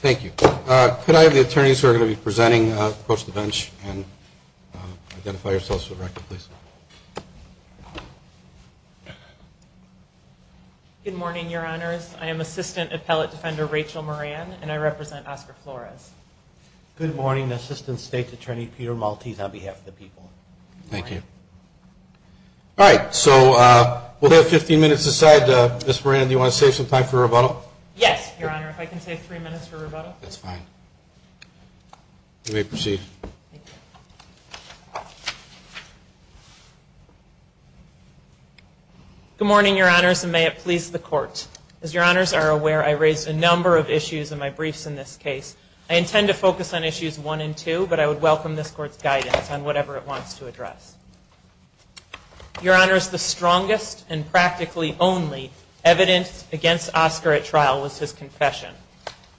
Thank you. Could I have the attorneys who are going to be presenting approach the bench and identify yourselves for the record, please? Good morning, Your Honors. I am Assistant Appellate Defender Rachel Moran, and I represent Oscar Flores. Good morning, Assistant State Attorney Peter Maltese, on behalf of the people. Thank you. All right, so we'll have 15 minutes aside. Ms. Moran, do you want to save some time for rebuttal? Yes, Your Honor. If I can save three minutes for rebuttal. That's fine. You may proceed. Good morning, Your Honors, and may it please the Court. As Your Honors are aware, I raised a number of issues in my briefs in this case. I intend to focus on issues one and two, but I would welcome this Court's guidance on whatever it wants to address. Your Honors, the strongest and practically only evidence against Oscar at trial was his confession.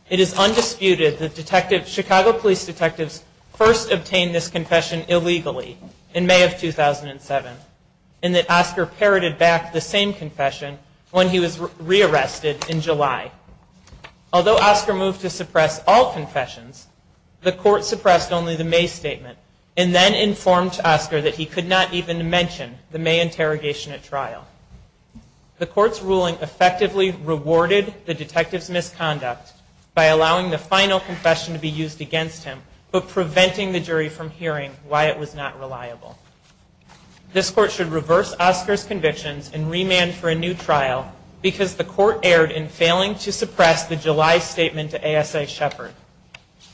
It is undisputed that Chicago Police detectives first obtained this confession illegally in May of 2007, and that Oscar parroted back the same confession when he was rearrested in July. Although Oscar moved to suppress all confessions, the Court suppressed only the May statement, and then informed Oscar that he could not even mention the May interrogation at trial. The Court's ruling effectively rewarded the detective's misconduct by allowing the final confession to be used against him, but preventing the jury from hearing why it was not reliable. This Court should reverse Oscar's convictions and remand for a new trial, because the Court erred in failing to suppress the July statement to ASA Shepard.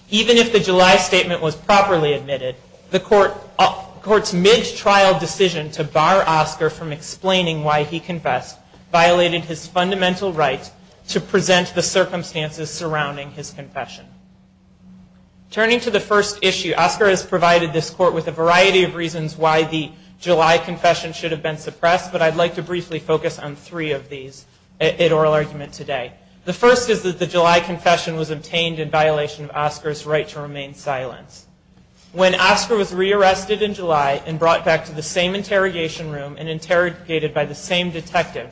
Even if the July statement was properly admitted, the Court's mid-trial decision to bar Oscar from explaining why he confessed violated his fundamental right to present the circumstances surrounding his confession. Turning to the first issue, Oscar has provided this Court with a variety of reasons why the July confession should have been suppressed, but I'd like to briefly focus on three of these in oral argument today. The first is that the July confession was obtained in violation of Oscar's right to remain silent. When Oscar was re-arrested in July and brought back to the same interrogation room and interrogated by the same detective,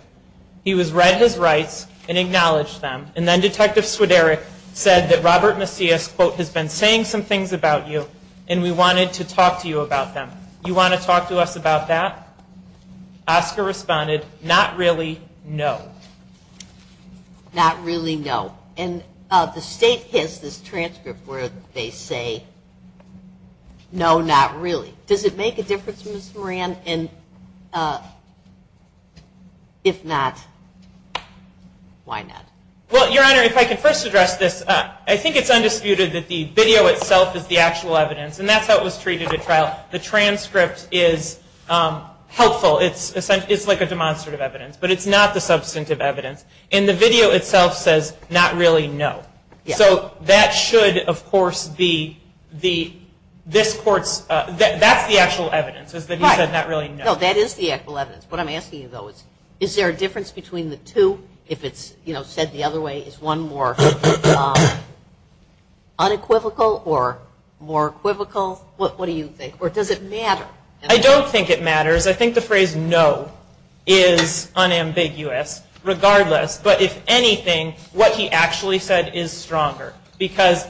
he was read his rights and acknowledged them, and then Detective Swideric said that Robert Macias, quote, has been saying some things about you, and we wanted to talk to you about them. You want to talk to us about that? Oscar responded, not really, no. Not really, no. And the State has this transcript where they say, no, not really. Does it make a difference, Ms. Moran? And if not, why not? Well, Your Honor, if I can first address this, I think it's undisputed that the video itself is the actual evidence, and that's how it was treated at trial. The transcript is helpful. It's like a demonstrative evidence, but it's not the substantive evidence, and the video itself says, not really, no. So that should, of course, be this court's, that's the actual evidence, is that he said not really, no. No, that is the actual evidence. What I'm asking you, though, is there a difference between the two if it's said the other way? Is one more unequivocal or more equivocal? What do you think? Or does it matter? I don't think it matters. I think the phrase no is unambiguous regardless. But if anything, what he actually said is stronger. Because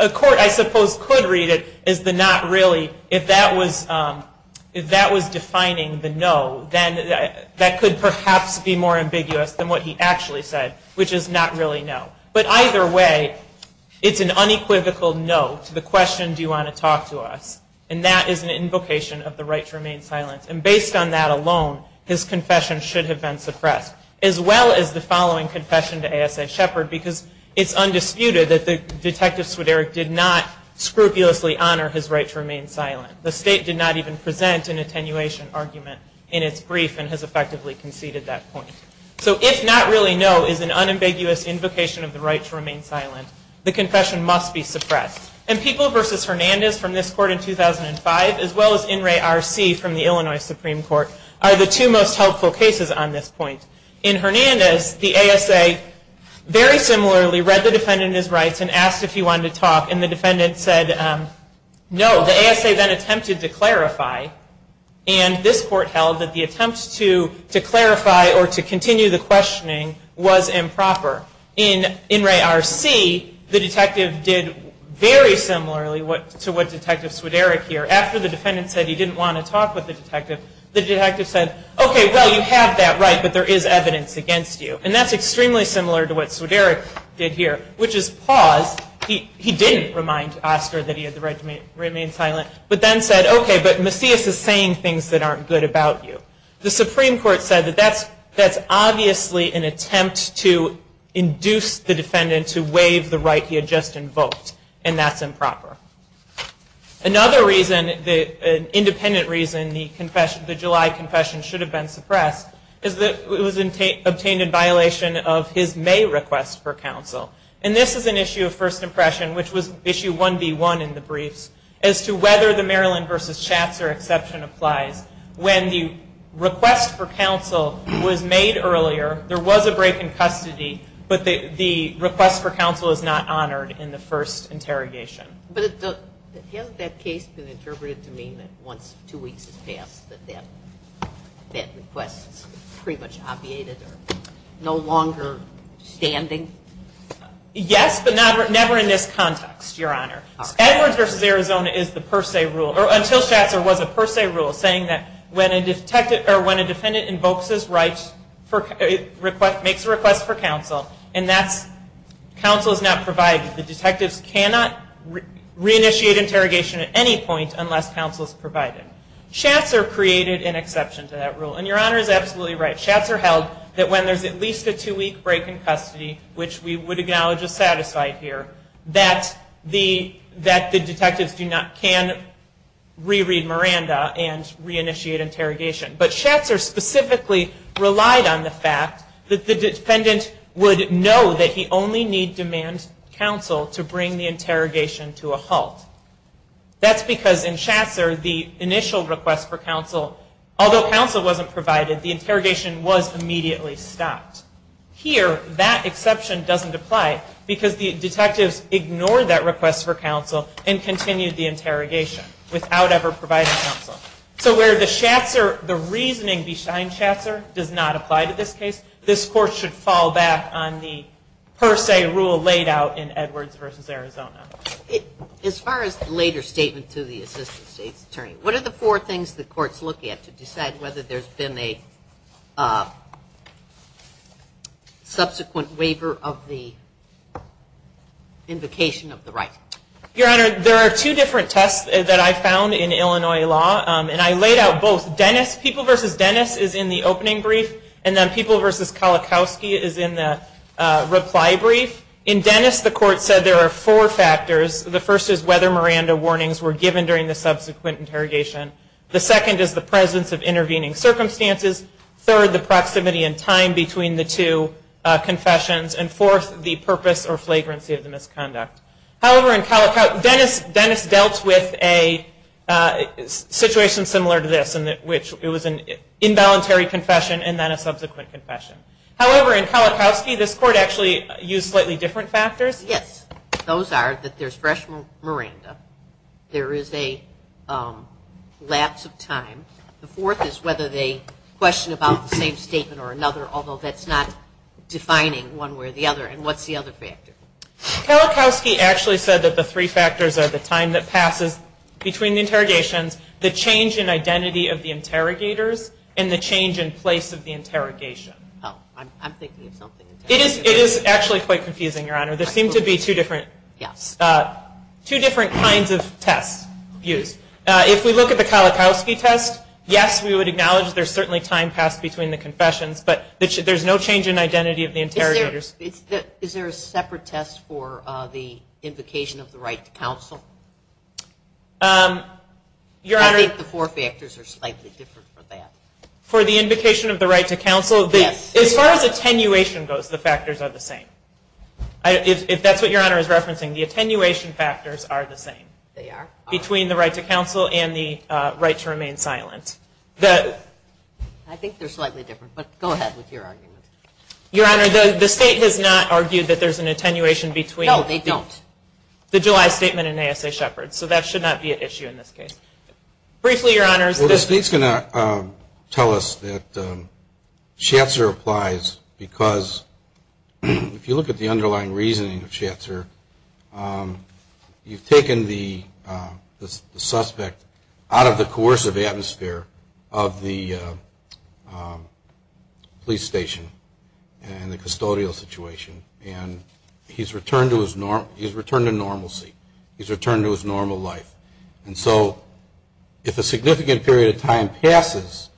a court, I suppose, could read it as the not really, if that was defining the no, then that could perhaps be more ambiguous than what he actually said, which is not really no. But either way, it's an unequivocal no to the question, do you want to talk to us? And that is an invocation of the right to remain silent. And based on that alone, his confession should have been suppressed. As well as the following confession to A.S.A. Shepard, because it's undisputed that Detective Swideric did not scrupulously honor his right to remain silent. The state did not even present an attenuation argument in its brief and has effectively conceded that point. So if not really no is an unambiguous invocation of the right to remain silent, the confession must be suppressed. And People v. Hernandez from this court in 2005, as well as In Re R.C. from the Illinois Supreme Court, are the two most helpful cases on this point. In Hernandez, the A.S.A. very similarly read the defendant in his rights and asked if he wanted to talk and the defendant said no. The A.S.A. then attempted to clarify and this court held that the attempt to clarify or to continue the questioning was improper. In Re R.C., the detective did very similarly to what Detective Swideric here. After the defendant said he didn't want to talk with the detective, the detective said, okay, well, you have that right, but there is evidence against you. And that's extremely similar to what Swideric did here, which is pause. He didn't remind Oscar that he had the right to remain silent, but then said, okay, but Macias is saying things that aren't good about you. The Supreme Court said that that's obviously an attempt to induce the defendant to waive the right he had just invoked, and that's improper. Another independent reason the July confession should have been suppressed is that it was obtained in violation of his May request for counsel. And this is an issue of first impression, which was issue 1B1 in the briefs, as to whether the Maryland v. Chatser exception applies. When the request for counsel was made earlier, there was a break in custody, but the request for counsel is not honored in the first interrogation. But hasn't that case been interpreted to mean that once two weeks have passed that that request is pretty much obviated or no longer standing? Yes, but never in this context, Your Honor. Edwards v. Arizona is the per se rule, or until Chatser was a per se rule, saying that when a defendant invokes his right, makes a request for counsel, and that counsel is not provided, the detectives cannot reinitiate interrogation at any point unless counsel is provided. Chatser created an exception to that rule, and Your Honor is absolutely right. Chatser held that when there's at least a two-week break in custody, which we would acknowledge is satisfied here, that the detectives can re-read Miranda and reinitiate interrogation. But Chatser specifically relied on the fact that the defendant would know that he only need demand counsel to bring the interrogation to a halt. That's because in Chatser, the initial request for counsel, although counsel wasn't provided, the interrogation was immediately stopped. Here, that exception doesn't apply because the detectives ignored that request for counsel and continued the interrogation without ever providing counsel. So where the Chatser, the reasoning behind Chatser does not apply to this case, this Court should fall back on the per se rule laid out in Edwards v. Arizona. As far as the later statement to the Assistant State's Attorney, what are the four things the Court's looking at to decide whether there's been a subsequent waiver of the invocation of the right? Your Honor, there are two different tests that I found in Illinois law, and I laid out both. Dennis, People v. Dennis is in the opening brief, and then People v. Kolakowski is in the reply brief. In Dennis, the Court said there are four factors. The first is whether Miranda warnings were given during the subsequent interrogation. The second is the presence of intervening circumstances. Third, the proximity and time between the two confessions. And fourth, the purpose or flagrancy of the misconduct. However, in Kolakowski, Dennis dealt with a situation similar to this, in which it was an involuntary confession and then a subsequent confession. However, in Kolakowski, this Court actually used slightly different factors. Yes, those are that there's fresh Miranda. There is a lapse of time. The fourth is whether they question about the same statement or another, although that's not defining one way or the other. And what's the other factor? Kolakowski actually said that the three factors are the time that passes between the interrogations, the change in identity of the interrogators, and the change in identity of the interrogators. There seem to be two different kinds of tests used. If we look at the Kolakowski test, yes, we would acknowledge there's certainly time passed between the confessions, but there's no change in identity of the interrogators. Is there a separate test for the invocation of the right to counsel? I think the four factors are slightly different for that. For the invocation of the right to counsel, as far as attenuation goes, the factors are the same. If that's what Your Honor is referencing, the attenuation factors are the same between the right to counsel and the right to remain silent. I think they're slightly different, but go ahead with your argument. Your Honor, the State has not argued that there's an attenuation between the July statement and ASA Shepard, so that should not be an issue in this case. Briefly, Your Honor. Well, the State's going to tell us that Schatzer applies because if you look at the underlying reasoning of Schatzer, you've taken the suspect out of the coercive atmosphere of the police station and the custodial situation, and he's returned to normalcy. He's returned to his normal life, and so if a significant period of time passes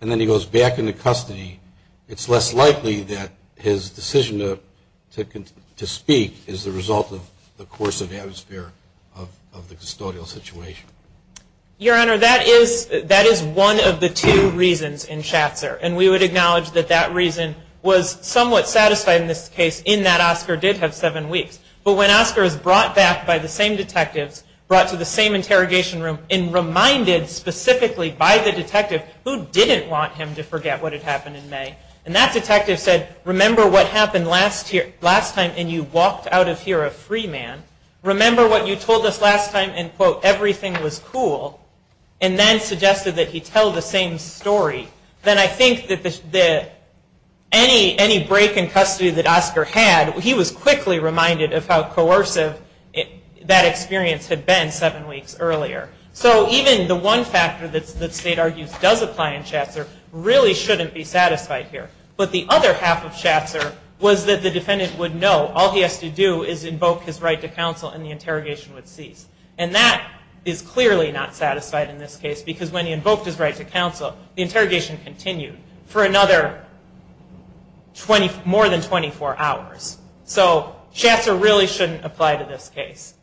and then he goes back into custody, it's less likely that his decision to speak is the result of the coercive atmosphere of the custodial situation. Your Honor, that is one of the two reasons in Schatzer, and we would acknowledge that that reason was somewhat satisfied in this case in that Oscar did have seven weeks. But when Oscar is brought back by the same detectives, brought to the same interrogation room in May, he is reminded specifically by the detective who didn't want him to forget what had happened in May, and that detective said, remember what happened last time and you walked out of here a free man. Remember what you told us last time and, quote, everything was cool, and then suggested that he tell the same story. Then I think that any break in custody that Oscar had, he was quickly reminded of how coercive that experience had been seven weeks earlier. So even the one factor that State argues does apply in Schatzer really shouldn't be satisfied here. But the other half of Schatzer was that the defendant would know all he has to do is invoke his right to counsel and the interrogation would cease. And that is clearly not satisfied in this case because when he invoked his right to counsel, the interrogation continued for another more than 24 hours. So Schatzer really shouldn't apply to this case.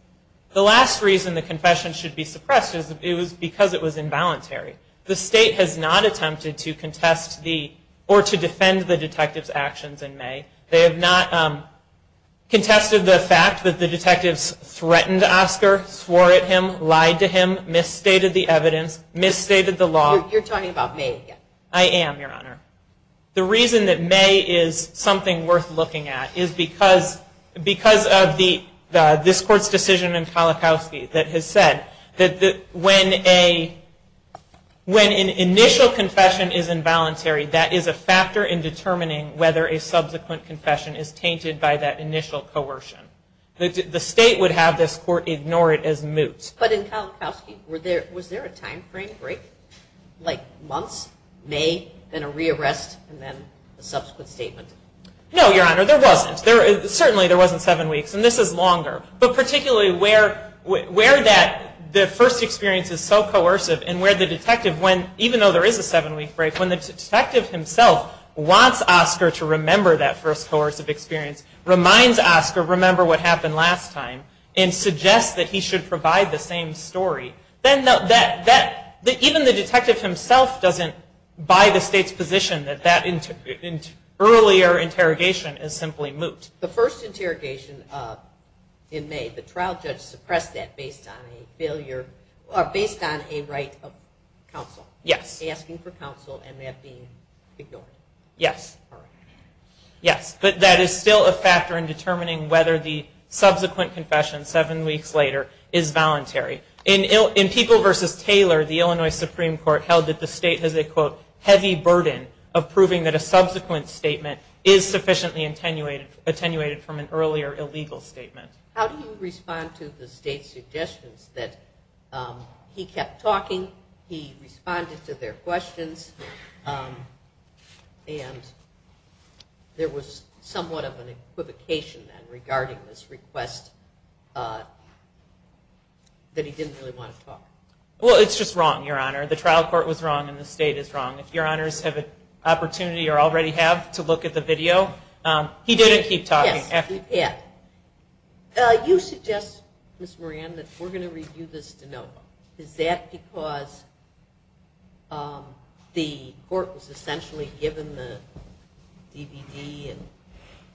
The last reason the confession should be suppressed is because it was involuntary. The State has not attempted to contest the, or to defend the detective's actions in May. They have not contested the fact that the detectives threatened Oscar, swore at him, lied to him, misstated the evidence, misstated the law. You're talking about May again. I am, Your Honor. The reason that May is something worth looking at is because of this Court's decision in Kalikowsky that has said that when an initial confession is involuntary, that is a factor in determining whether a subsequent confession is tainted by that initial coercion. The State would have this Court ignore it as moot. But in Kalikowsky, was there a time frame break? Like months? May, then a re-arrest, and then a subsequent statement? No, Your Honor, there wasn't. Certainly there wasn't seven weeks. And this is longer. But particularly where that first experience is so coercive and where the detective, even though there is a seven-week break, when the detective himself wants Oscar to remember that first coercive experience, reminds Oscar, remember what happened last time, and suggests that he should provide the same story, then even the State's position that that earlier interrogation is simply moot. The first interrogation in May, the trial judge suppressed that based on a right of counsel, asking for counsel and that being ignored. Yes. But that is still a factor in determining whether the subsequent confession seven weeks later is voluntary. In People v. Taylor, the Illinois Supreme Court held that the State has a, quote, heavy burden of proving that a subsequent statement is sufficiently attenuated from an earlier illegal statement. How do you respond to the State's suggestions that he kept talking, he responded to their questions, and there was somewhat of an equivocation then regarding this request that he didn't really want to talk? Well, it's just wrong, Your Honor. The trial court was wrong and the State is wrong. If Your Honors have an opportunity or already have to look at the video, he didn't keep talking. You suggest, Ms. Moran, that we're going to review this de novo. Is that because the court was essentially given the DVD and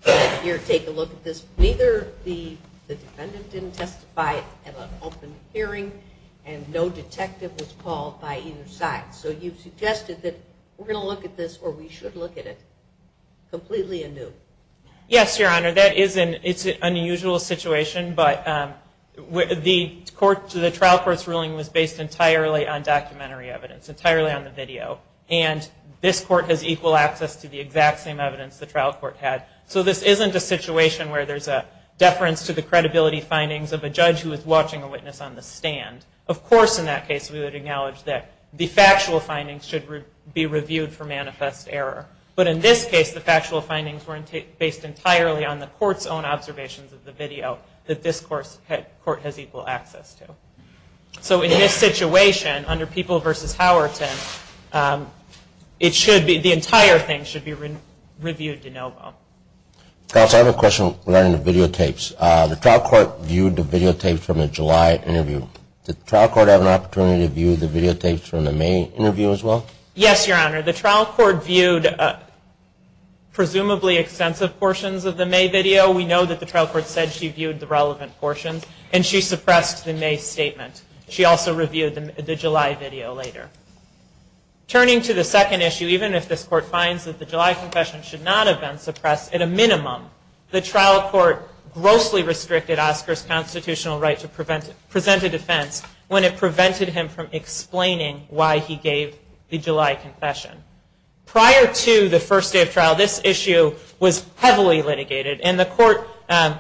said, here, take a look at this? Neither the defendant didn't testify at an open hearing, and no detective testified at an open hearing, and no detective was called by either side. So you've suggested that we're going to look at this, or we should look at it, completely anew. Yes, Your Honor. That is an unusual situation, but the trial court's ruling was based entirely on documentary evidence, entirely on the video, and this court has equal access to the exact same evidence the trial court had. So this isn't a situation where there's a deference to the credibility findings of a judge who is watching a witness on the stand. Of course, in that case, there's a difference, but in this case, we would acknowledge that the factual findings should be reviewed for manifest error. But in this case, the factual findings were based entirely on the court's own observations of the video that this court has equal access to. So in this situation, under People v. Howerton, it should be, the entire thing should be reviewed de novo. Counsel, I have a question regarding the videotapes. The trial court viewed the videotapes from a July interview. Did the trial court have an opportunity to view the videotapes from the May interview as well? Yes, Your Honor. The trial court viewed presumably extensive portions of the May video. We know that the trial court said she viewed the relevant portions, and she suppressed the May statement. She also reviewed the July video later. Turning to the second issue, even if this court finds that the July confession should not have been suppressed, at a minimum, the trial court grossly restricted Oscar's constitutional right to present a defense when it prevented him from explaining why he gave the July confession. Prior to the first day of trial, this issue was heavily litigated, and the court, I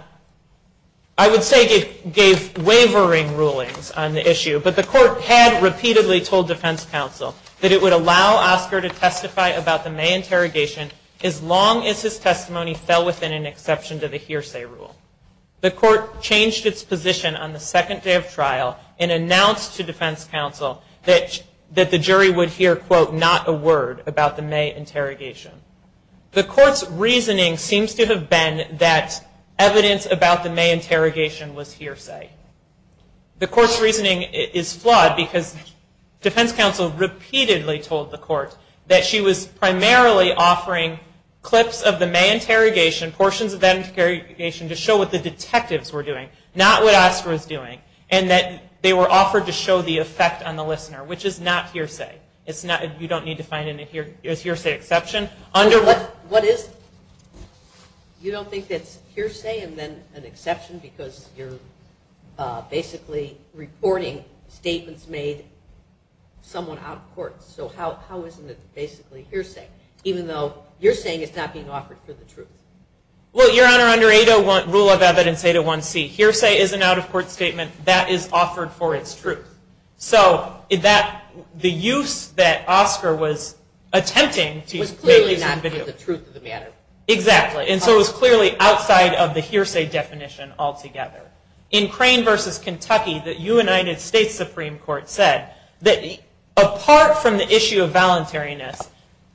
would say, gave wavering rulings on the issue, but the court had repeatedly told defense counsel that it would allow Oscar to testify about the May interrogation as long as his testimony fell within an exception to the hearsay rule. The court changed its position on the second day of trial and announced to defense counsel that the jury would hear, quote, not a word about the May interrogation. The court's reasoning seems to have been that evidence about the May interrogation was hearsay. The court's reasoning is flawed because defense counsel repeatedly told the court that she was primarily offering clips of the May interrogation, portions of that interrogation, to show what the detectives were doing, not what Oscar was doing, and that they were offered to show the effect on the listener, which is not hearsay. You don't need to find a hearsay exception. What is it? You don't think it's hearsay and then an exception because you're basically reporting statements made somewhat out of court. So how is it basically hearsay, even though you're saying it's not being offered for the truth? Well, Your Honor, under 801 rule of evidence, 801C, hearsay is an out-of-court statement that is offered for its truth. So the use that Oscar was attempting to make was clearly not for the truth of the matter. Exactly. And so it was clearly outside of the hearsay definition altogether. In Crane v. Kentucky, the United States Supreme Court said that apart from the issue of voluntariness,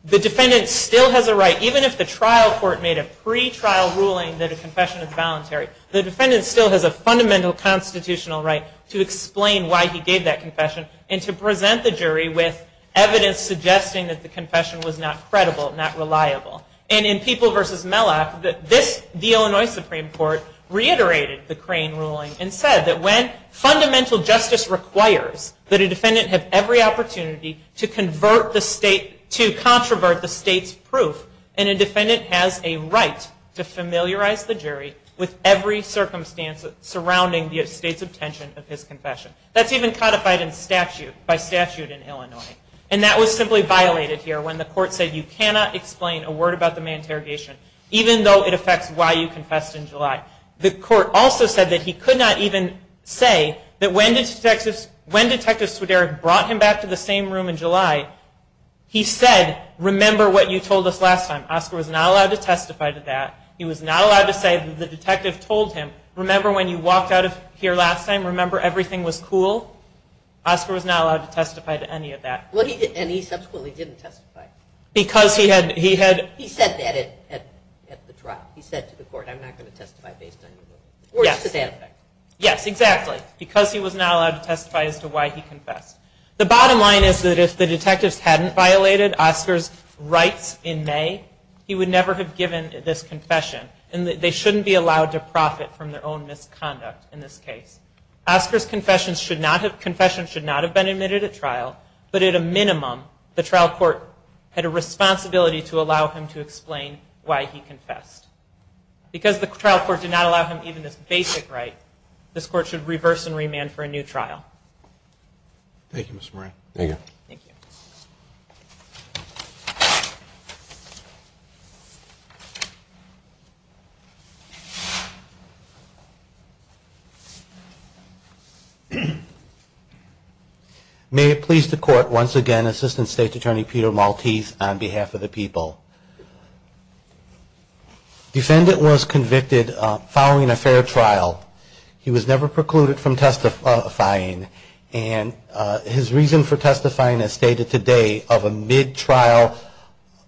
the defendant still has a right, even if the trial court made a pre-trial ruling that a confession is voluntary, the defendant still has a fundamental constitutional right to explain why he gave that confession and to present the jury with evidence suggesting that the confession was not credible, not reliable. And in People v. Mellock, the Illinois Supreme Court reiterated the Crane ruling and said that when the defendant has every opportunity to convert the state, to controvert the state's proof, and a defendant has a right to familiarize the jury with every circumstance surrounding the state's obtention of his confession. That's even codified in statute, by statute in Illinois. And that was simply violated here when the court said you cannot explain a word about the main interrogation, even though it affects why you confessed in July. The court also said that he could not even say why he confessed in July. He could not even say that when Detective Swiderich brought him back to the same room in July, he said, remember what you told us last time. Oscar was not allowed to testify to that. He was not allowed to say that the detective told him, remember when you walked out of here last time, remember everything was cool? Oscar was not allowed to testify to any of that. And he subsequently didn't testify. Because he had... He said that at the trial. He said to the court, I'm not going to testify based on your ruling. Or just to that effect. Yes, exactly. Because he was not allowed to testify as to why he confessed. The bottom line is that if the detectives hadn't violated Oscar's rights in May, he would never have given this confession, and they shouldn't be allowed to profit from their own misconduct in this case. Oscar's confession should not have been admitted at trial, but at a minimum, the trial court had a responsibility to allow him to explain why he confessed, and not allow him even this basic right. This court should reverse and remand for a new trial. Thank you, Mr. Moran. Thank you. May it please the court, once again, Assistant State's Attorney Peter Maltese on behalf of the people. Defendant was convicted following a fair trial. He was never precluded from testifying. And his reason for testifying, as stated today, of a mid-trial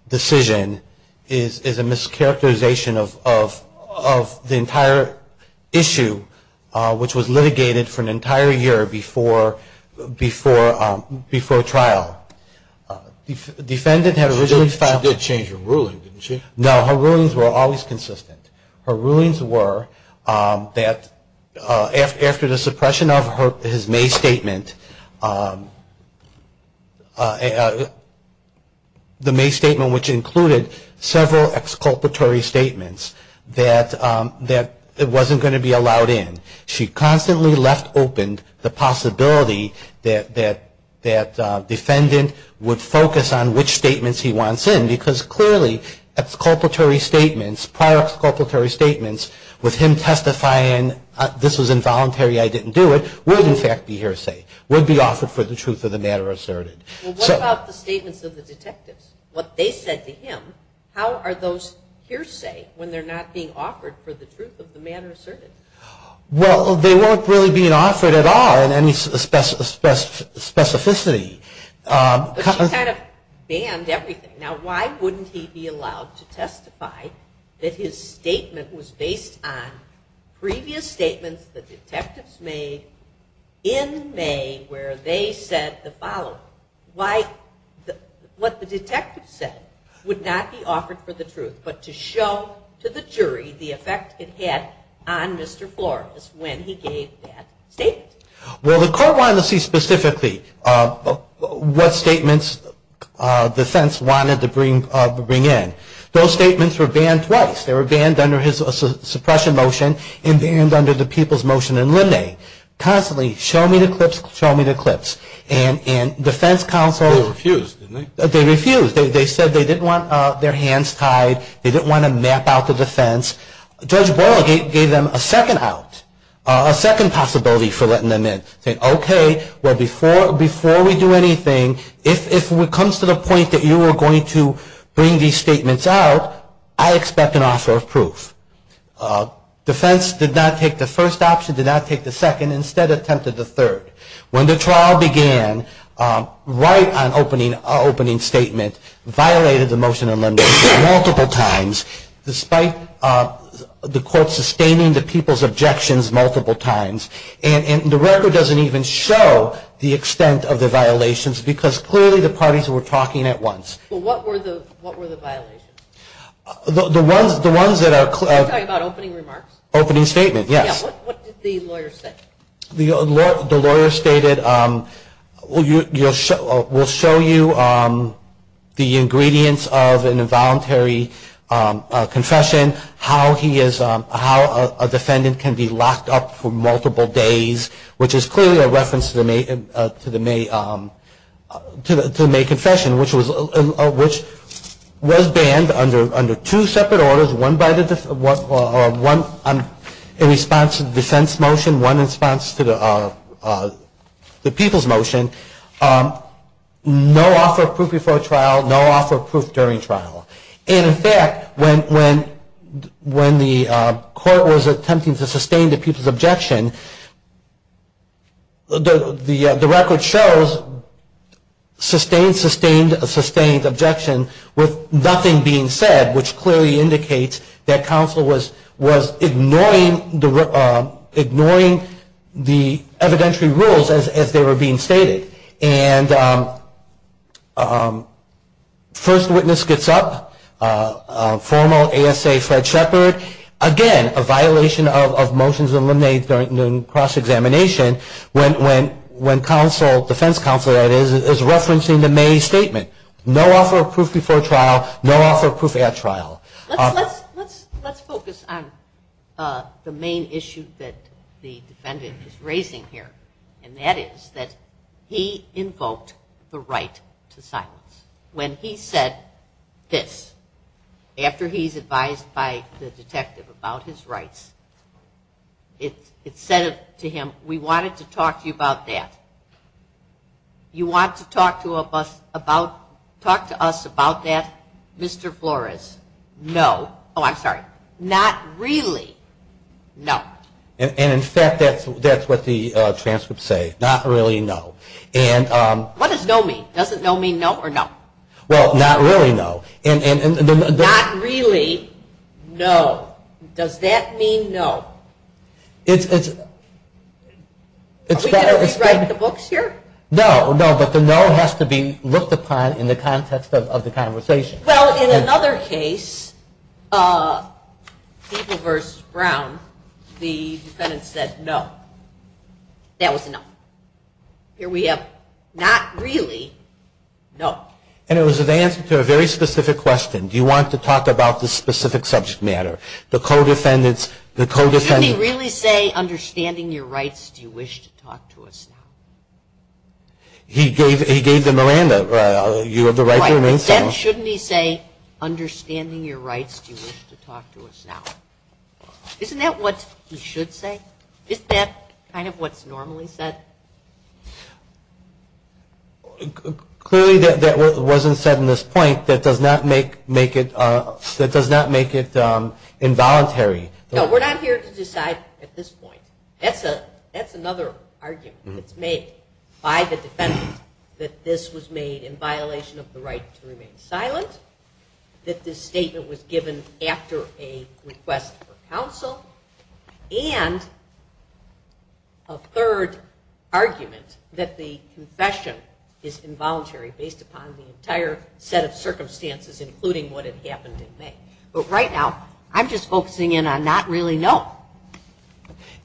decision is a mischaracterization of the entire issue, which was litigated for an entire year before trial. The defendant had originally filed... She did change her ruling, didn't she? No, her rulings were always consistent. Her rulings were that after the suppression of his May statement, the May statement which included several exculpatory statements, that it wasn't going to be allowed in. She constantly left open the possibility that the defendant would focus on which statements he wants in, because clearly, exculpatory statements, prior exculpatory statements, with him testifying, this was involuntary, I didn't do it, would in fact be hearsay, would be offered for the truth of the matter asserted. Well, what about the statements of the detectives? What they said to him, how are those hearsay when they're not being offered for the truth of the matter? She kind of banned everything. Now, why wouldn't he be allowed to testify that his statement was based on previous statements the detectives made in May where they said the following? What the detectives said would not be offered for the truth, but to show to the jury the effect it had on Mr. Flores when he gave that statement. Well, the court wanted to see specifically what statements defense wanted to bring in. Those statements were banned twice. They were banned under his suppression motion and banned under the people's motion in Linda. Constantly, show me the clips, show me the clips. And defense counsel... They refused, didn't they? They refused. They said they didn't want their hands tied, they didn't want to map out the defense. Judge Boyle gave them a second possibility for letting them in. He said, okay, well, before we do anything, if it comes to the point that you are going to bring these statements out, I expect an offer of proof. Defense did not take the first option, did not take the second, instead attempted the third. When the trial began, right on opening statement, violated the motion in Linda multiple times, despite the court sustaining the people's objections multiple times. And the record doesn't even show the extent of the violations, because clearly the parties were talking at once. Well, what were the violations? The ones that are clear... You're talking about opening remarks? Opening statement, yes. What did the lawyer say? The lawyer stated, we'll show you the ingredients of an involuntary confession, how a defendant can make a statement. How a defendant can be locked up for multiple days, which is clearly a reference to the May confession, which was banned under two separate orders, one in response to the defense motion, one in response to the people's motion. No offer of proof before trial, no offer of proof during trial. And in fact, when the court was attempting to sustain the people's objection, the record shows sustained, sustained, sustained objection, with nothing being said, which clearly indicates that counsel was ignoring the evidentiary rules as they were being stated. And first witness gets up, formal ASA Fred Shepard. Again, a violation of motions eliminated during cross-examination, when counsel, defense counsel, that is, is referencing the May statement. No offer of proof before trial, no offer of proof at trial. Let's focus on the main issue that the defendant is raising here, and that is, that he is a defendant. He is a defendant. He invoked the right to silence. When he said this, after he's advised by the detective about his rights, it said to him, we wanted to talk to you about that. You want to talk to us about that, Mr. Flores? No. Oh, I'm sorry. Not really. No. And in fact, that's what the transcripts say. Not really, no. What does no mean? Does it no mean no or no? Well, not really, no. Not really, no. Does that mean no? Are we going to rewrite the books here? No, no, but the no has to be looked upon in the context of the conversation. Well, in another case, People v. Brown, the defendant is a defendant. He's a defendant. He's a defendant. He's a defendant. And the defendant said no. That was a no. Here we have not really, no. And it was an answer to a very specific question. Do you want to talk about this specific subject matter? The co-defendants, the co-defendants. Shouldn't he really say, understanding your rights, do you wish to talk to us now? He gave the Miranda, you have the right to remain silent. Right, but then shouldn't he say, understanding your rights, do you wish to talk to us now? Isn't that what he should have said? Isn't that kind of what's normally said? Clearly that wasn't said in this point. That does not make it involuntary. No, we're not here to decide at this point. That's another argument that's made by the defendant that this was made in violation of the right to remain silent, that this statement was given after a request for counsel, and that the co-defendant should not make a third argument that the confession is involuntary based upon the entire set of circumstances, including what had happened in May. But right now, I'm just focusing in on not really no.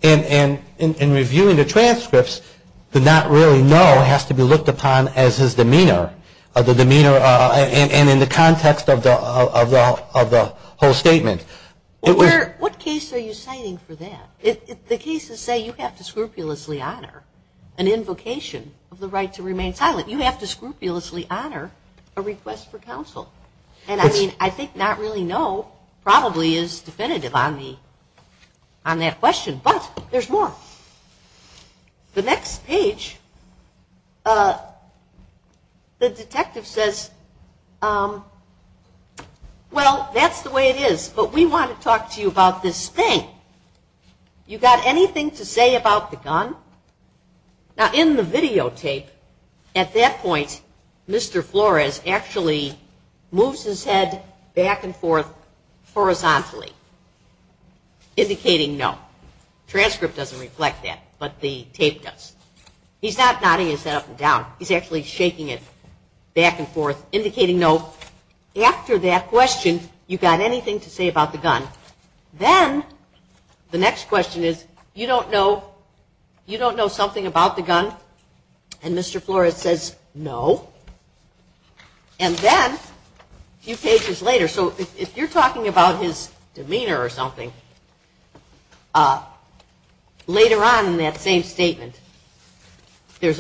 And in reviewing the transcripts, the not really no has to be looked upon as his demeanor, and in the context of the whole case, I think it's exciting for that. The cases say you have to scrupulously honor an invocation of the right to remain silent. You have to scrupulously honor a request for counsel. And I mean, I think not really no probably is definitive on that question. But there's more. The next page, the detective says, well, that's the way it is, but we want to talk to you about this thing. You got anything to say about the gun? Now, in the videotape, at that point, Mr. Flores actually moves his head back and forth horizontally, indicating no. The transcript doesn't reflect that, but the tape does. He's not nodding his head up and down. He's actually shaking it back and forth, indicating no. After that question, you got anything to say about the gun? Then the next question is, you don't know something about the gun? And Mr. Flores says, no. And then a few pages later, so if you're talking about his demeanor or something, later on in that same statement, there's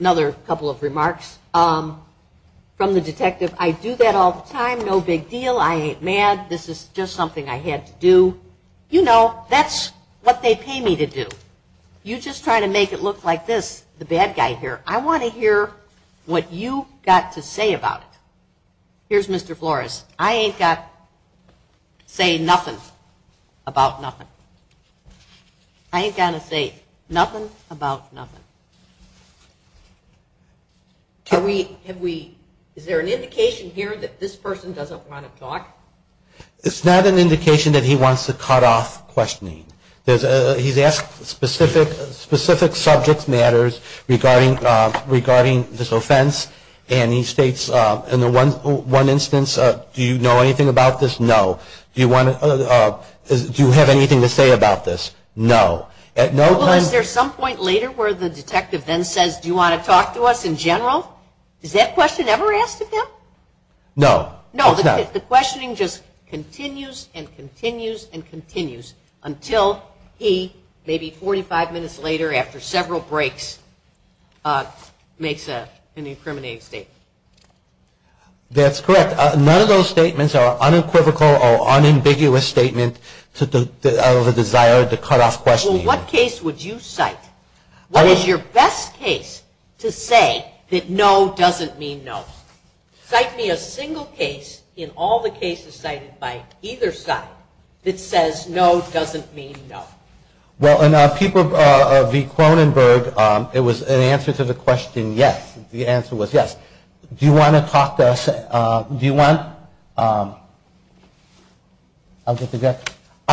another couple of remarks from the detective, I do that all the time, no big deal, I ain't mad, this is just something I had to do. You know, I'm not going to say anything about the gun, but that's what they pay me to do. You just try to make it look like this, the bad guy here, I want to hear what you got to say about it. Here's Mr. Flores, I ain't got to say nothing about nothing. I ain't got to say nothing about nothing. Is there an indication here that this person doesn't want to talk? It's not an indication that he wants to talk, it's a cutoff questioning. He's asked specific subject matters regarding this offense, and he states, in the one instance, do you know anything about this? No. Do you have anything to say about this? No. At no point... Well, is there some point later where the detective then says, do you want to talk to us in general? Is that question ever asked of him? No. No, the questioning just continues and continues and continues, and it's not an indication that he wants to talk. The questioning continues until he, maybe 45 minutes later after several breaks, makes an incriminating statement. That's correct. None of those statements are unequivocal or unambiguous statements of a desire to cutoff questioning. Well, what case would you cite? What is your best case to say that no doesn't mean no? Cite me a single case in all the cases cited by either side that says no doesn't mean no. Well, in a paper of V. Kronenberg, it was an answer to the question yes. The answer was yes. Do you want to talk to us? Do you want... Are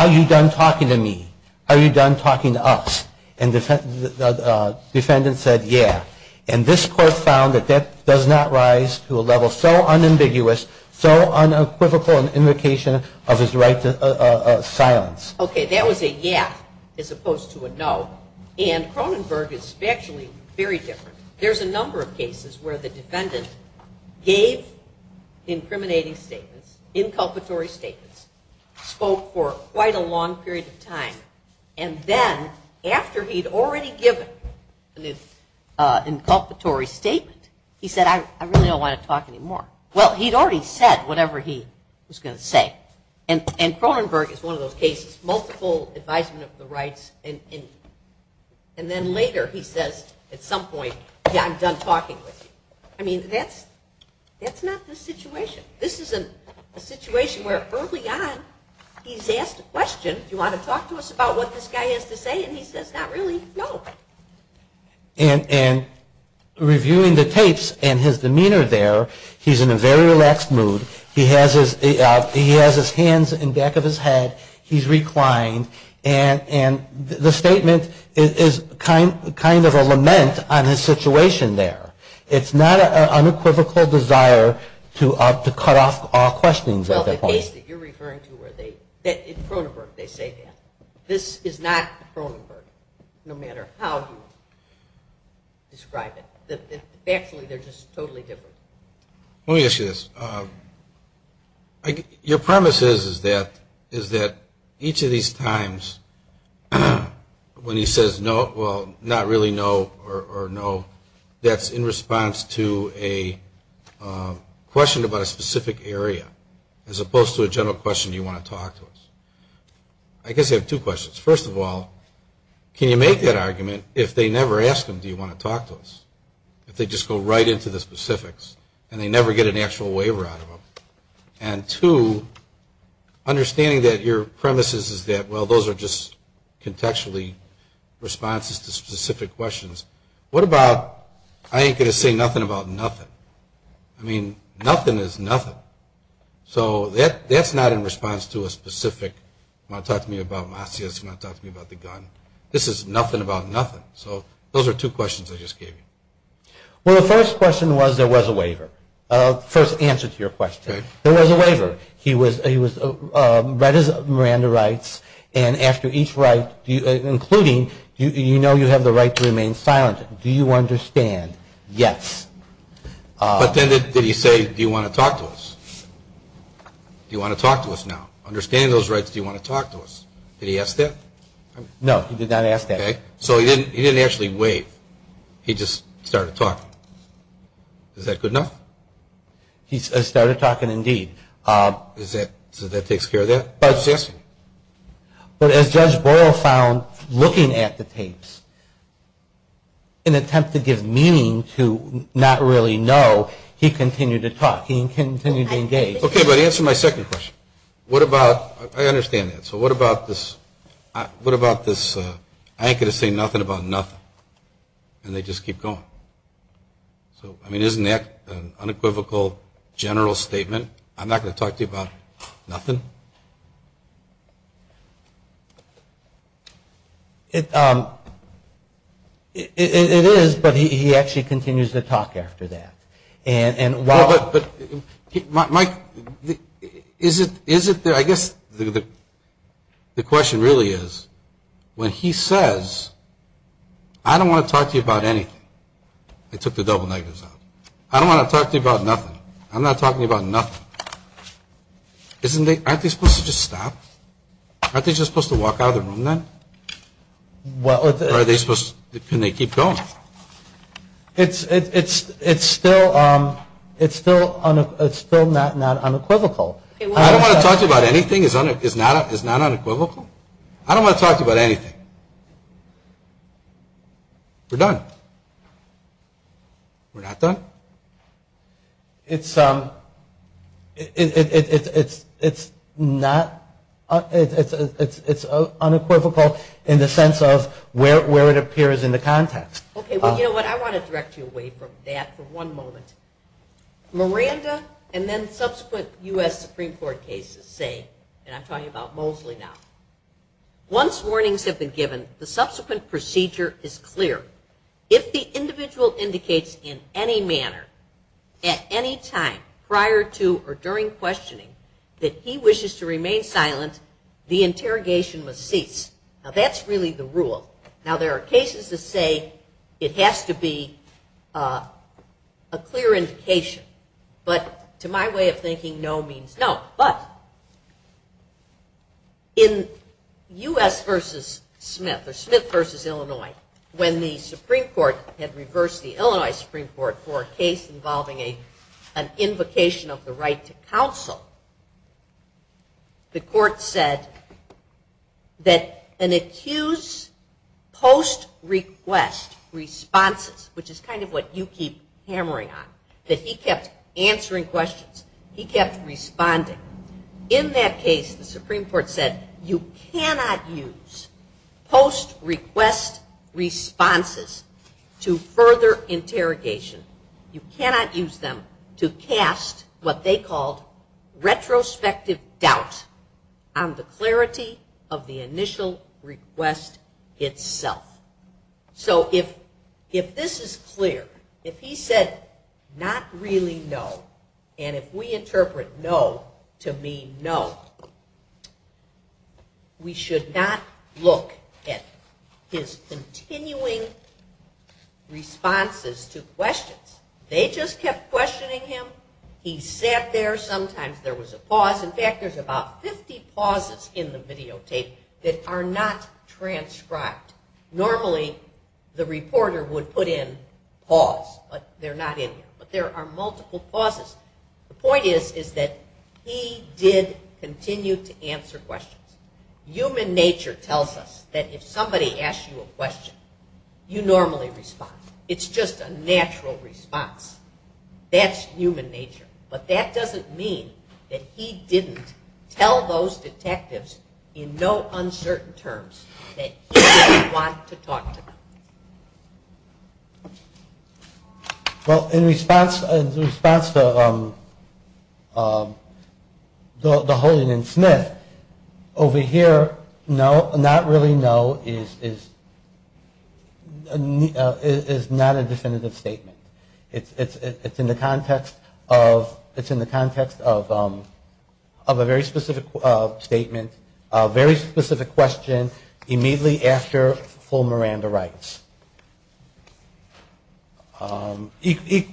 you done talking to me? Are you done talking to us? And the defendant said, yeah. And this court found that that does not rise to a level so unambiguous, so unequivocal an indication of his right to silence. Okay, that was a yeah as opposed to a no, and Kronenberg is actually very different. There's a number of cases where the defendant gave incriminating statements, inculpatory statements, spoke for quite a long period of time, and then after he'd already given an inculpatory statement, he said, I really don't want to talk anymore. Well, he'd already said whatever he was going to say, and Kronenberg is one of those cases, multiple advisement of the rights, and then later he says at some point, yeah, I'm done talking with you. I mean, that's not the situation. This isn't a situation where early on he's asked a question, do you want to talk to us about what this guy has to say, and he says, not really, no. And reviewing the tapes and his demeanor there, he says, no, I don't want to talk to you anymore. He's in a very relaxed mood. He has his hands in the back of his head. He's reclined, and the statement is kind of a lament on his situation there. It's not an unequivocal desire to cut off all questions at that point. Well, the case that you're referring to where they, Kronenberg, they say that. This is not Kronenberg, no matter how you look at it. It's just totally different. Let me ask you this. Your premise is that each of these times when he says, no, well, not really no or no, that's in response to a question about a specific area, as opposed to a general question, do you want to talk to us? I guess I have two questions. First of all, can you make that argument if they never ask him, do you want to talk to us, if they just go right into the specifics and they never get an actual waiver out of them? And two, understanding that your premise is that, well, those are just contextually responses to specific questions. What about, I ain't going to say nothing about nothing. I mean, nothing is nothing. So that's not in response to a specific, you want to talk to me about Masias, you want to talk to me about the gun. This is nothing about nothing. So those are two questions I just gave you. Well, the first question was there was a waiver. First answer to your question. There was a waiver. He was, read his Miranda rights, and after each right, including, you know you have the right to remain silent, do you understand? Yes. But then did he say, do you want to talk to us? Do you want to talk to us now? Understand those rights, do you want to talk to us? Did he ask that? No, he did not ask that. Okay. So he didn't actually waive. He didn't actually say, do you want to talk to us? He just started talking. Is that good enough? He started talking indeed. So that takes care of that? I was asking. But as Judge Boyle found looking at the tapes, in an attempt to give meaning to not really know, he continued to talk. He continued to engage. Okay, but answer my second question. What about, I understand that. So what about this, I ain't going to say nothing about nothing. And they just keep going. So, I mean, isn't that an unequivocal general statement? I'm not going to talk to you about nothing? It is, but he actually continues to talk after that. And while... But Mike, is it, I guess the question really is, when he says, I don't want to talk to you about anything. I took the double negatives out. I don't want to talk to you about nothing. I'm not talking about nothing. Isn't they, aren't they supposed to just stop? Aren't they just supposed to walk out of the room then? Or are they supposed, can they keep going? It's still, it's still not unequivocal. I don't want to talk to you about anything. Anything is not unequivocal. I don't want to talk to you about anything. We're done. We're not done? It's unequivocal in the sense of where it appears in the context. Okay, well, you know what, I want to direct you away from that for one moment. Miranda and then subsequent U.S. Supreme Court cases say, and I'm talking about Mosley now. Once warnings have been given, the subsequent procedure is clear. If the individual indicates in any manner at any time prior to or during questioning that he wishes to remain silent, the interrogation must cease. Now, that's really the rule. Now, there are cases that say it has to be a clear indication. But to my way of thinking, no means no. But in U.S. v. Smith or Smith v. Illinois, when the Supreme Court had reversed the Illinois Supreme Court for a case involving an invocation of the right to counsel, the court said that an accused post-request responses, which is kind of what you keep hammering on, that he kept answering questions, that he kept answering questions, he kept responding. In that case, the Supreme Court said you cannot use post-request responses to further interrogation. You cannot use them to cast what they called retrospective doubt on the clarity of the initial request itself. So if this is clear, if he said not really no, and if we interpret no to mean no, we should not look at his continuing responses to questions. They just kept questioning him. He sat there. Sometimes there was a pause. In fact, there's about 50 pauses in the videotape that are not transcribed. Normally, the reporter would put in, you know, a pause. But in this case, the reporter put in a pause. But there are multiple pauses. The point is, is that he did continue to answer questions. Human nature tells us that if somebody asks you a question, you normally respond. It's just a natural response. That's human nature. But that doesn't mean that he didn't tell those detectives in no uncertain terms that he didn't want to talk to them. Well, in response to the holding in Smith, over here, no, not really no, is not a definitive statement. It's in the context of a very specific statement, a very specific question, immediately after full Miranda rights. Equally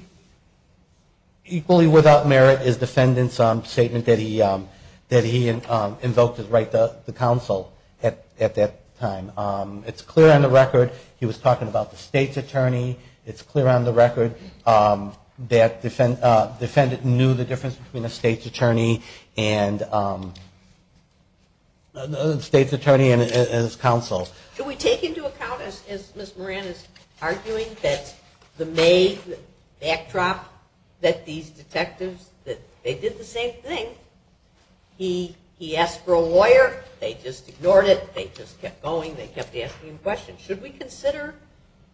without merit is the defendant's statement that he invoked his right to counsel at that time. It's clear on the record, he was talking about the state's attorney. It's clear on the record that the defendant knew the difference between a state's attorney and his counsel. Do we take into account, as Ms. Moran is arguing, that the backdrop that these detectives, that they did the same thing, he asked for a lawyer. They just ignored it. They just kept going. They kept asking questions. Should we consider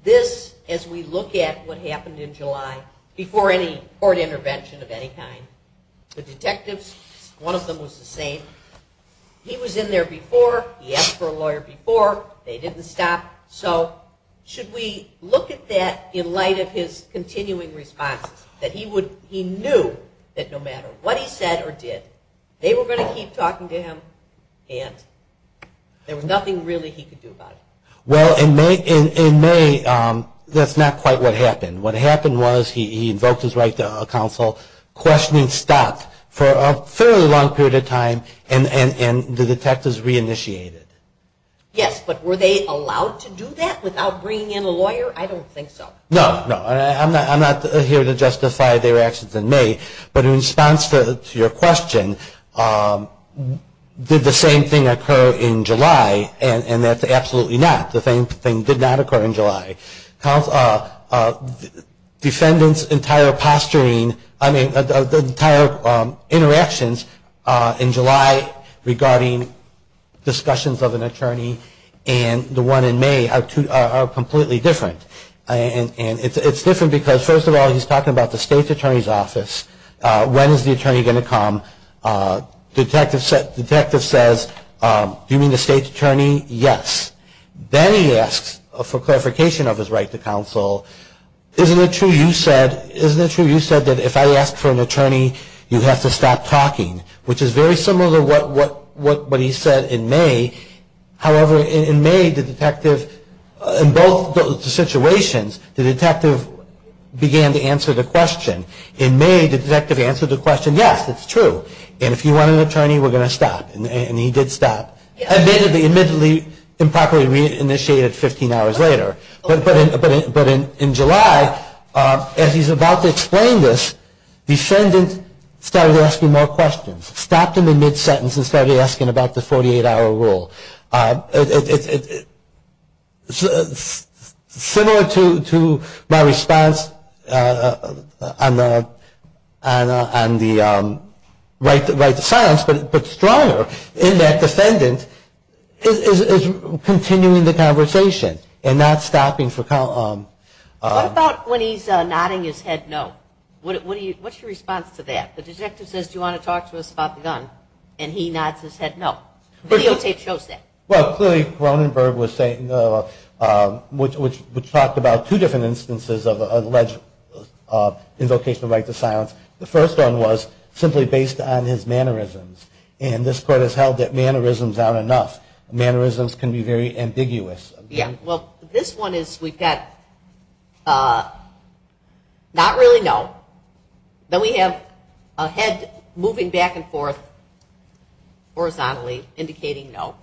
this as we look at what happened in July before any court intervention of any kind? The detectives, one of them was the same. He was in there before. He was in there before. They didn't stop. So should we look at that in light of his continuing responses, that he knew that no matter what he said or did, they were going to keep talking to him and there was nothing really he could do about it? Well, in May, that's not quite what happened. What happened was he invoked his right to counsel, questioned and stopped for a fairly long period of time, and the detectives reinitiated. Yes, but were they allowed to do that without bringing in a lawyer? I don't think so. No, no. I'm not here to justify their actions in May, but in response to your question, did the same thing occur in July? And that's absolutely not. The same thing did not occur in July. The defendant's entire posturing, I mean, the entire interactions in July regarding discussions of an attorney and the one in May are completely different. And it's different because, first of all, he's talking about the state's attorney's office. When is the attorney going to come? The detective says, do you mean the state's attorney? Yes. Then he asks for clarification of his right to counsel. Isn't it true you said that if I ask for an attorney, you have to stop talking, which is very true, but he said in May. However, in May, the detective, in both situations, the detective began to answer the question. In May, the detective answered the question, yes, it's true. And if you want an attorney, we're going to stop. And he did stop. Admittedly, improperly reinitiated 15 hours later. But in July, as he's about to explain this, the defendant started asking more questions, stopped him in his tracks, and said, I'm going to stop. And that's the 48-hour rule. Similar to my response on the right to silence, but stronger in that defendant is continuing the conversation and not stopping for counsel. What about when he's nodding his head no? What's your response to that? The detective says, do you want to talk to us about the gun? And he nods his head no. The videotape shows that. Well, clearly Cronenberg was saying, which talked about two different instances of alleged invocation of right to silence. The first one was simply based on his mannerisms. And this court has held that mannerisms aren't enough. Mannerisms can be very ambiguous. Yeah. Well, this one is we've got not really no. Then we have a head moving back and forth horizontally indicating no.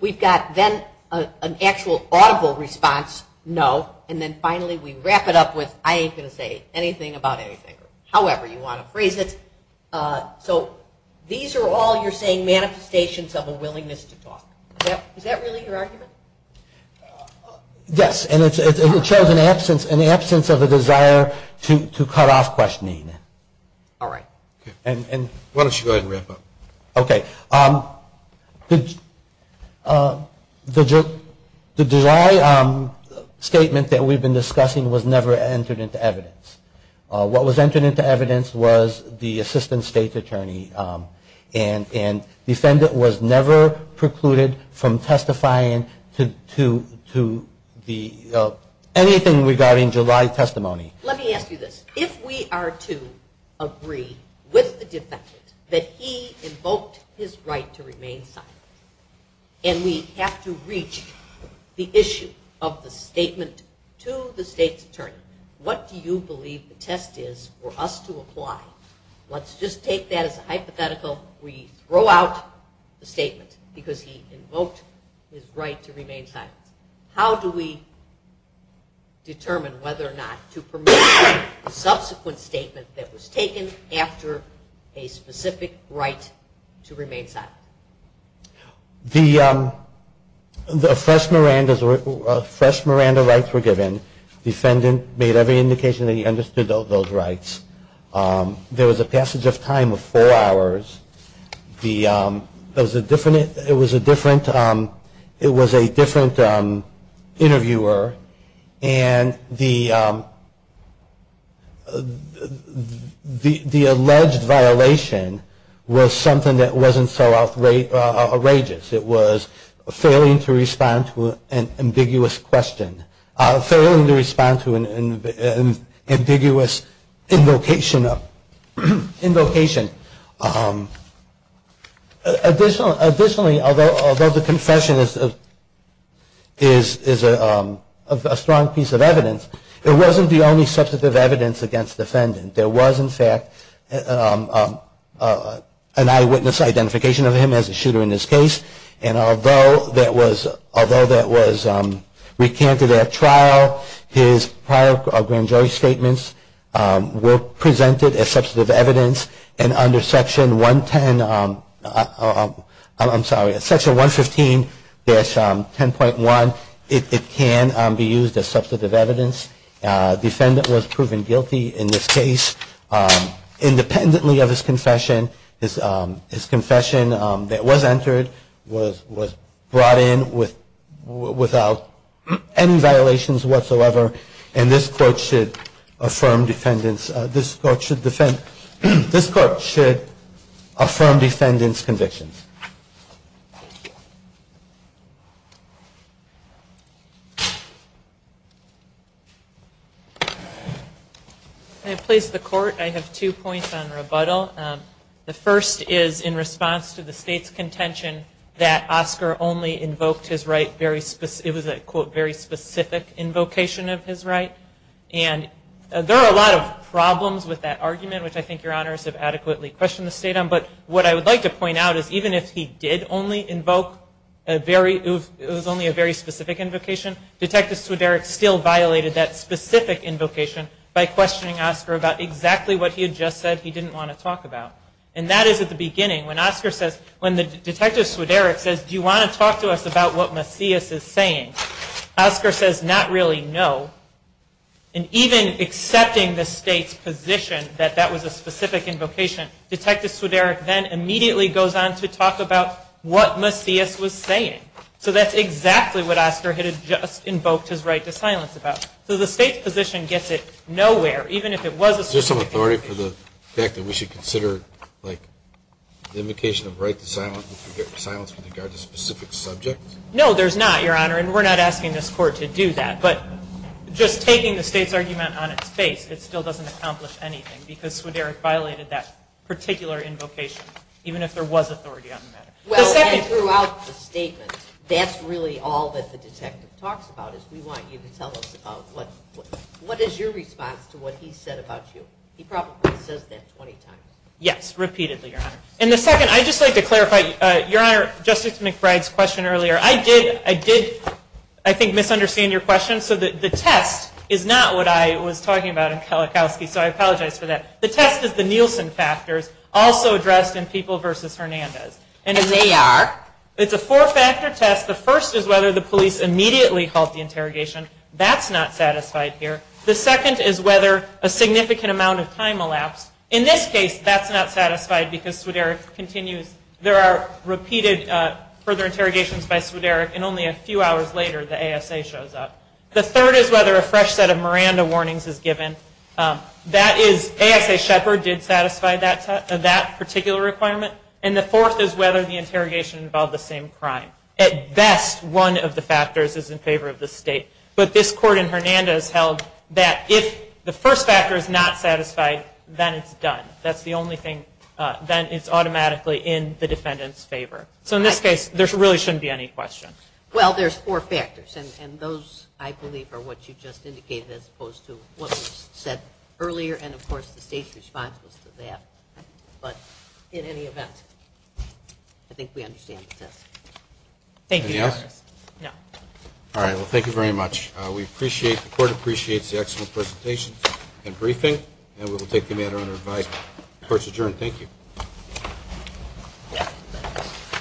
We've got then an actual audible response, no. And then finally we wrap it up with I ain't going to say anything about anything. However you want to phrase it. So these are all you're saying manifestations of a willingness to talk. Is that really your argument? Yes. And it shows an absence of a desire to cut off questioning. All right. Why don't you go ahead and wrap it up? Okay. The July statement that we've been discussing was never entered into evidence. What was entered into evidence was the assistant state attorney. And the defendant was never precluded from testifying to anything regarding July testimony. Let me ask you this. If we are to agree with the defendant that he invoked his right to remain silent and we have to reach the issue of the statement to the state's attorney, what do you believe the test is for us to apply? Let's just take that as a hypothetical. We throw out the statement because he invoked his right to remain silent. How do we determine whether or not to permit him to speak? How do we determine whether or not to permit him to speak? And what is the subsequent statement that was taken after a specific right to remain silent? The fresh Miranda rights were given. The defendant made every indication that he understood those rights. There was a passage of time of four hours. It was a different interviewer. And the defendant was not in the process of speaking. The defendant was not in the process of speaking. The alleged violation was something that wasn't so outrageous. It was failing to respond to an ambiguous question. Failing to respond to an ambiguous invocation. Additionally, although the confession is a strong piece of evidence, there was in fact an eyewitness identification of him as a shooter in this case. And although that was recanted at trial, his prior grand jury statements were presented as substantive evidence. And under section 110, I'm sorry, section 115-10.1, it says that the defendant, in this case, independently of his confession, his confession that was entered, was brought in without any violations whatsoever. And this court should affirm defendant's convictions. I have two points on rebuttal. The first is in response to the state's contention that Oscar only invoked his right, it was a quote, very specific invocation of his right. And there are a lot of problems with that argument, which I think your honors have adequately questioned the state on. But what I would like to point out is even if he did only invoke a very, it was only a very specific invocation, Detective Swideric still violated that specific invocation by questioning Oscar's right to remain silent. And that is at the beginning when Oscar says, when Detective Swideric says, do you want to talk to us about what Macias is saying, Oscar says not really no. And even accepting the state's position that that was a specific invocation, Detective Swideric then immediately goes on to talk about what Macias was saying. So that's exactly what Oscar had just invoked his right to silence about. So the state's conviction says that. And even if it was a specific invocation... Is there some authority for the fact that we should consider the invocation of right to silence with regard to specific subjects? No, there's not, your honor. And we're not asking this Court to do that. But just taking the state's argument on its face, it still doesn't accomplish anything, because Swideric violated that particular invocation, even if there was authority on the matter. Well, and throughout the statement, that's really all that the detective talks about, is we want you to tell us about what is your response to what he said about you. He probably says that 20 times. Yes, repeatedly, your honor. And the second, I'd just like to clarify your honor, Justice McBride's question earlier. I did, I did, I think, misunderstand your question. So the test is not what I was talking about in Kalikowski, so I apologize for that. The test is the Nielsen factors, also addressed in People v. Hernandez. And they are? It's a four-factor test. The first is whether the police immediately halt the interrogation. That's not satisfied here. The second is whether a significant amount of time elapsed. In this case, that's not satisfied, because Swideric continues. There are repeated further interrogations by Swideric, and only a few hours later, the ASA shows up. The third is whether a fresh set of Miranda warnings is given. That is, ASA Shepard did satisfy that particular requirement. And the fourth is whether the interrogation involved the same crime. At best, one of the factors is in favor of the state. But this court in Hernandez held that if the first factor is not satisfied, then it's done. That's the only thing, then it's automatically in the defendant's favor. So in this case, there really shouldn't be any questions. Well, there's four factors, and those, I believe, are what you just indicated as opposed to what was said earlier, and of course, the state's response was to that. But in any event. I think we understand the test. Any other questions? No. All right. Well, thank you very much. We appreciate, the court appreciates the excellent presentation and briefing, and we will take the matter under advice. Court's adjourned. Thank you.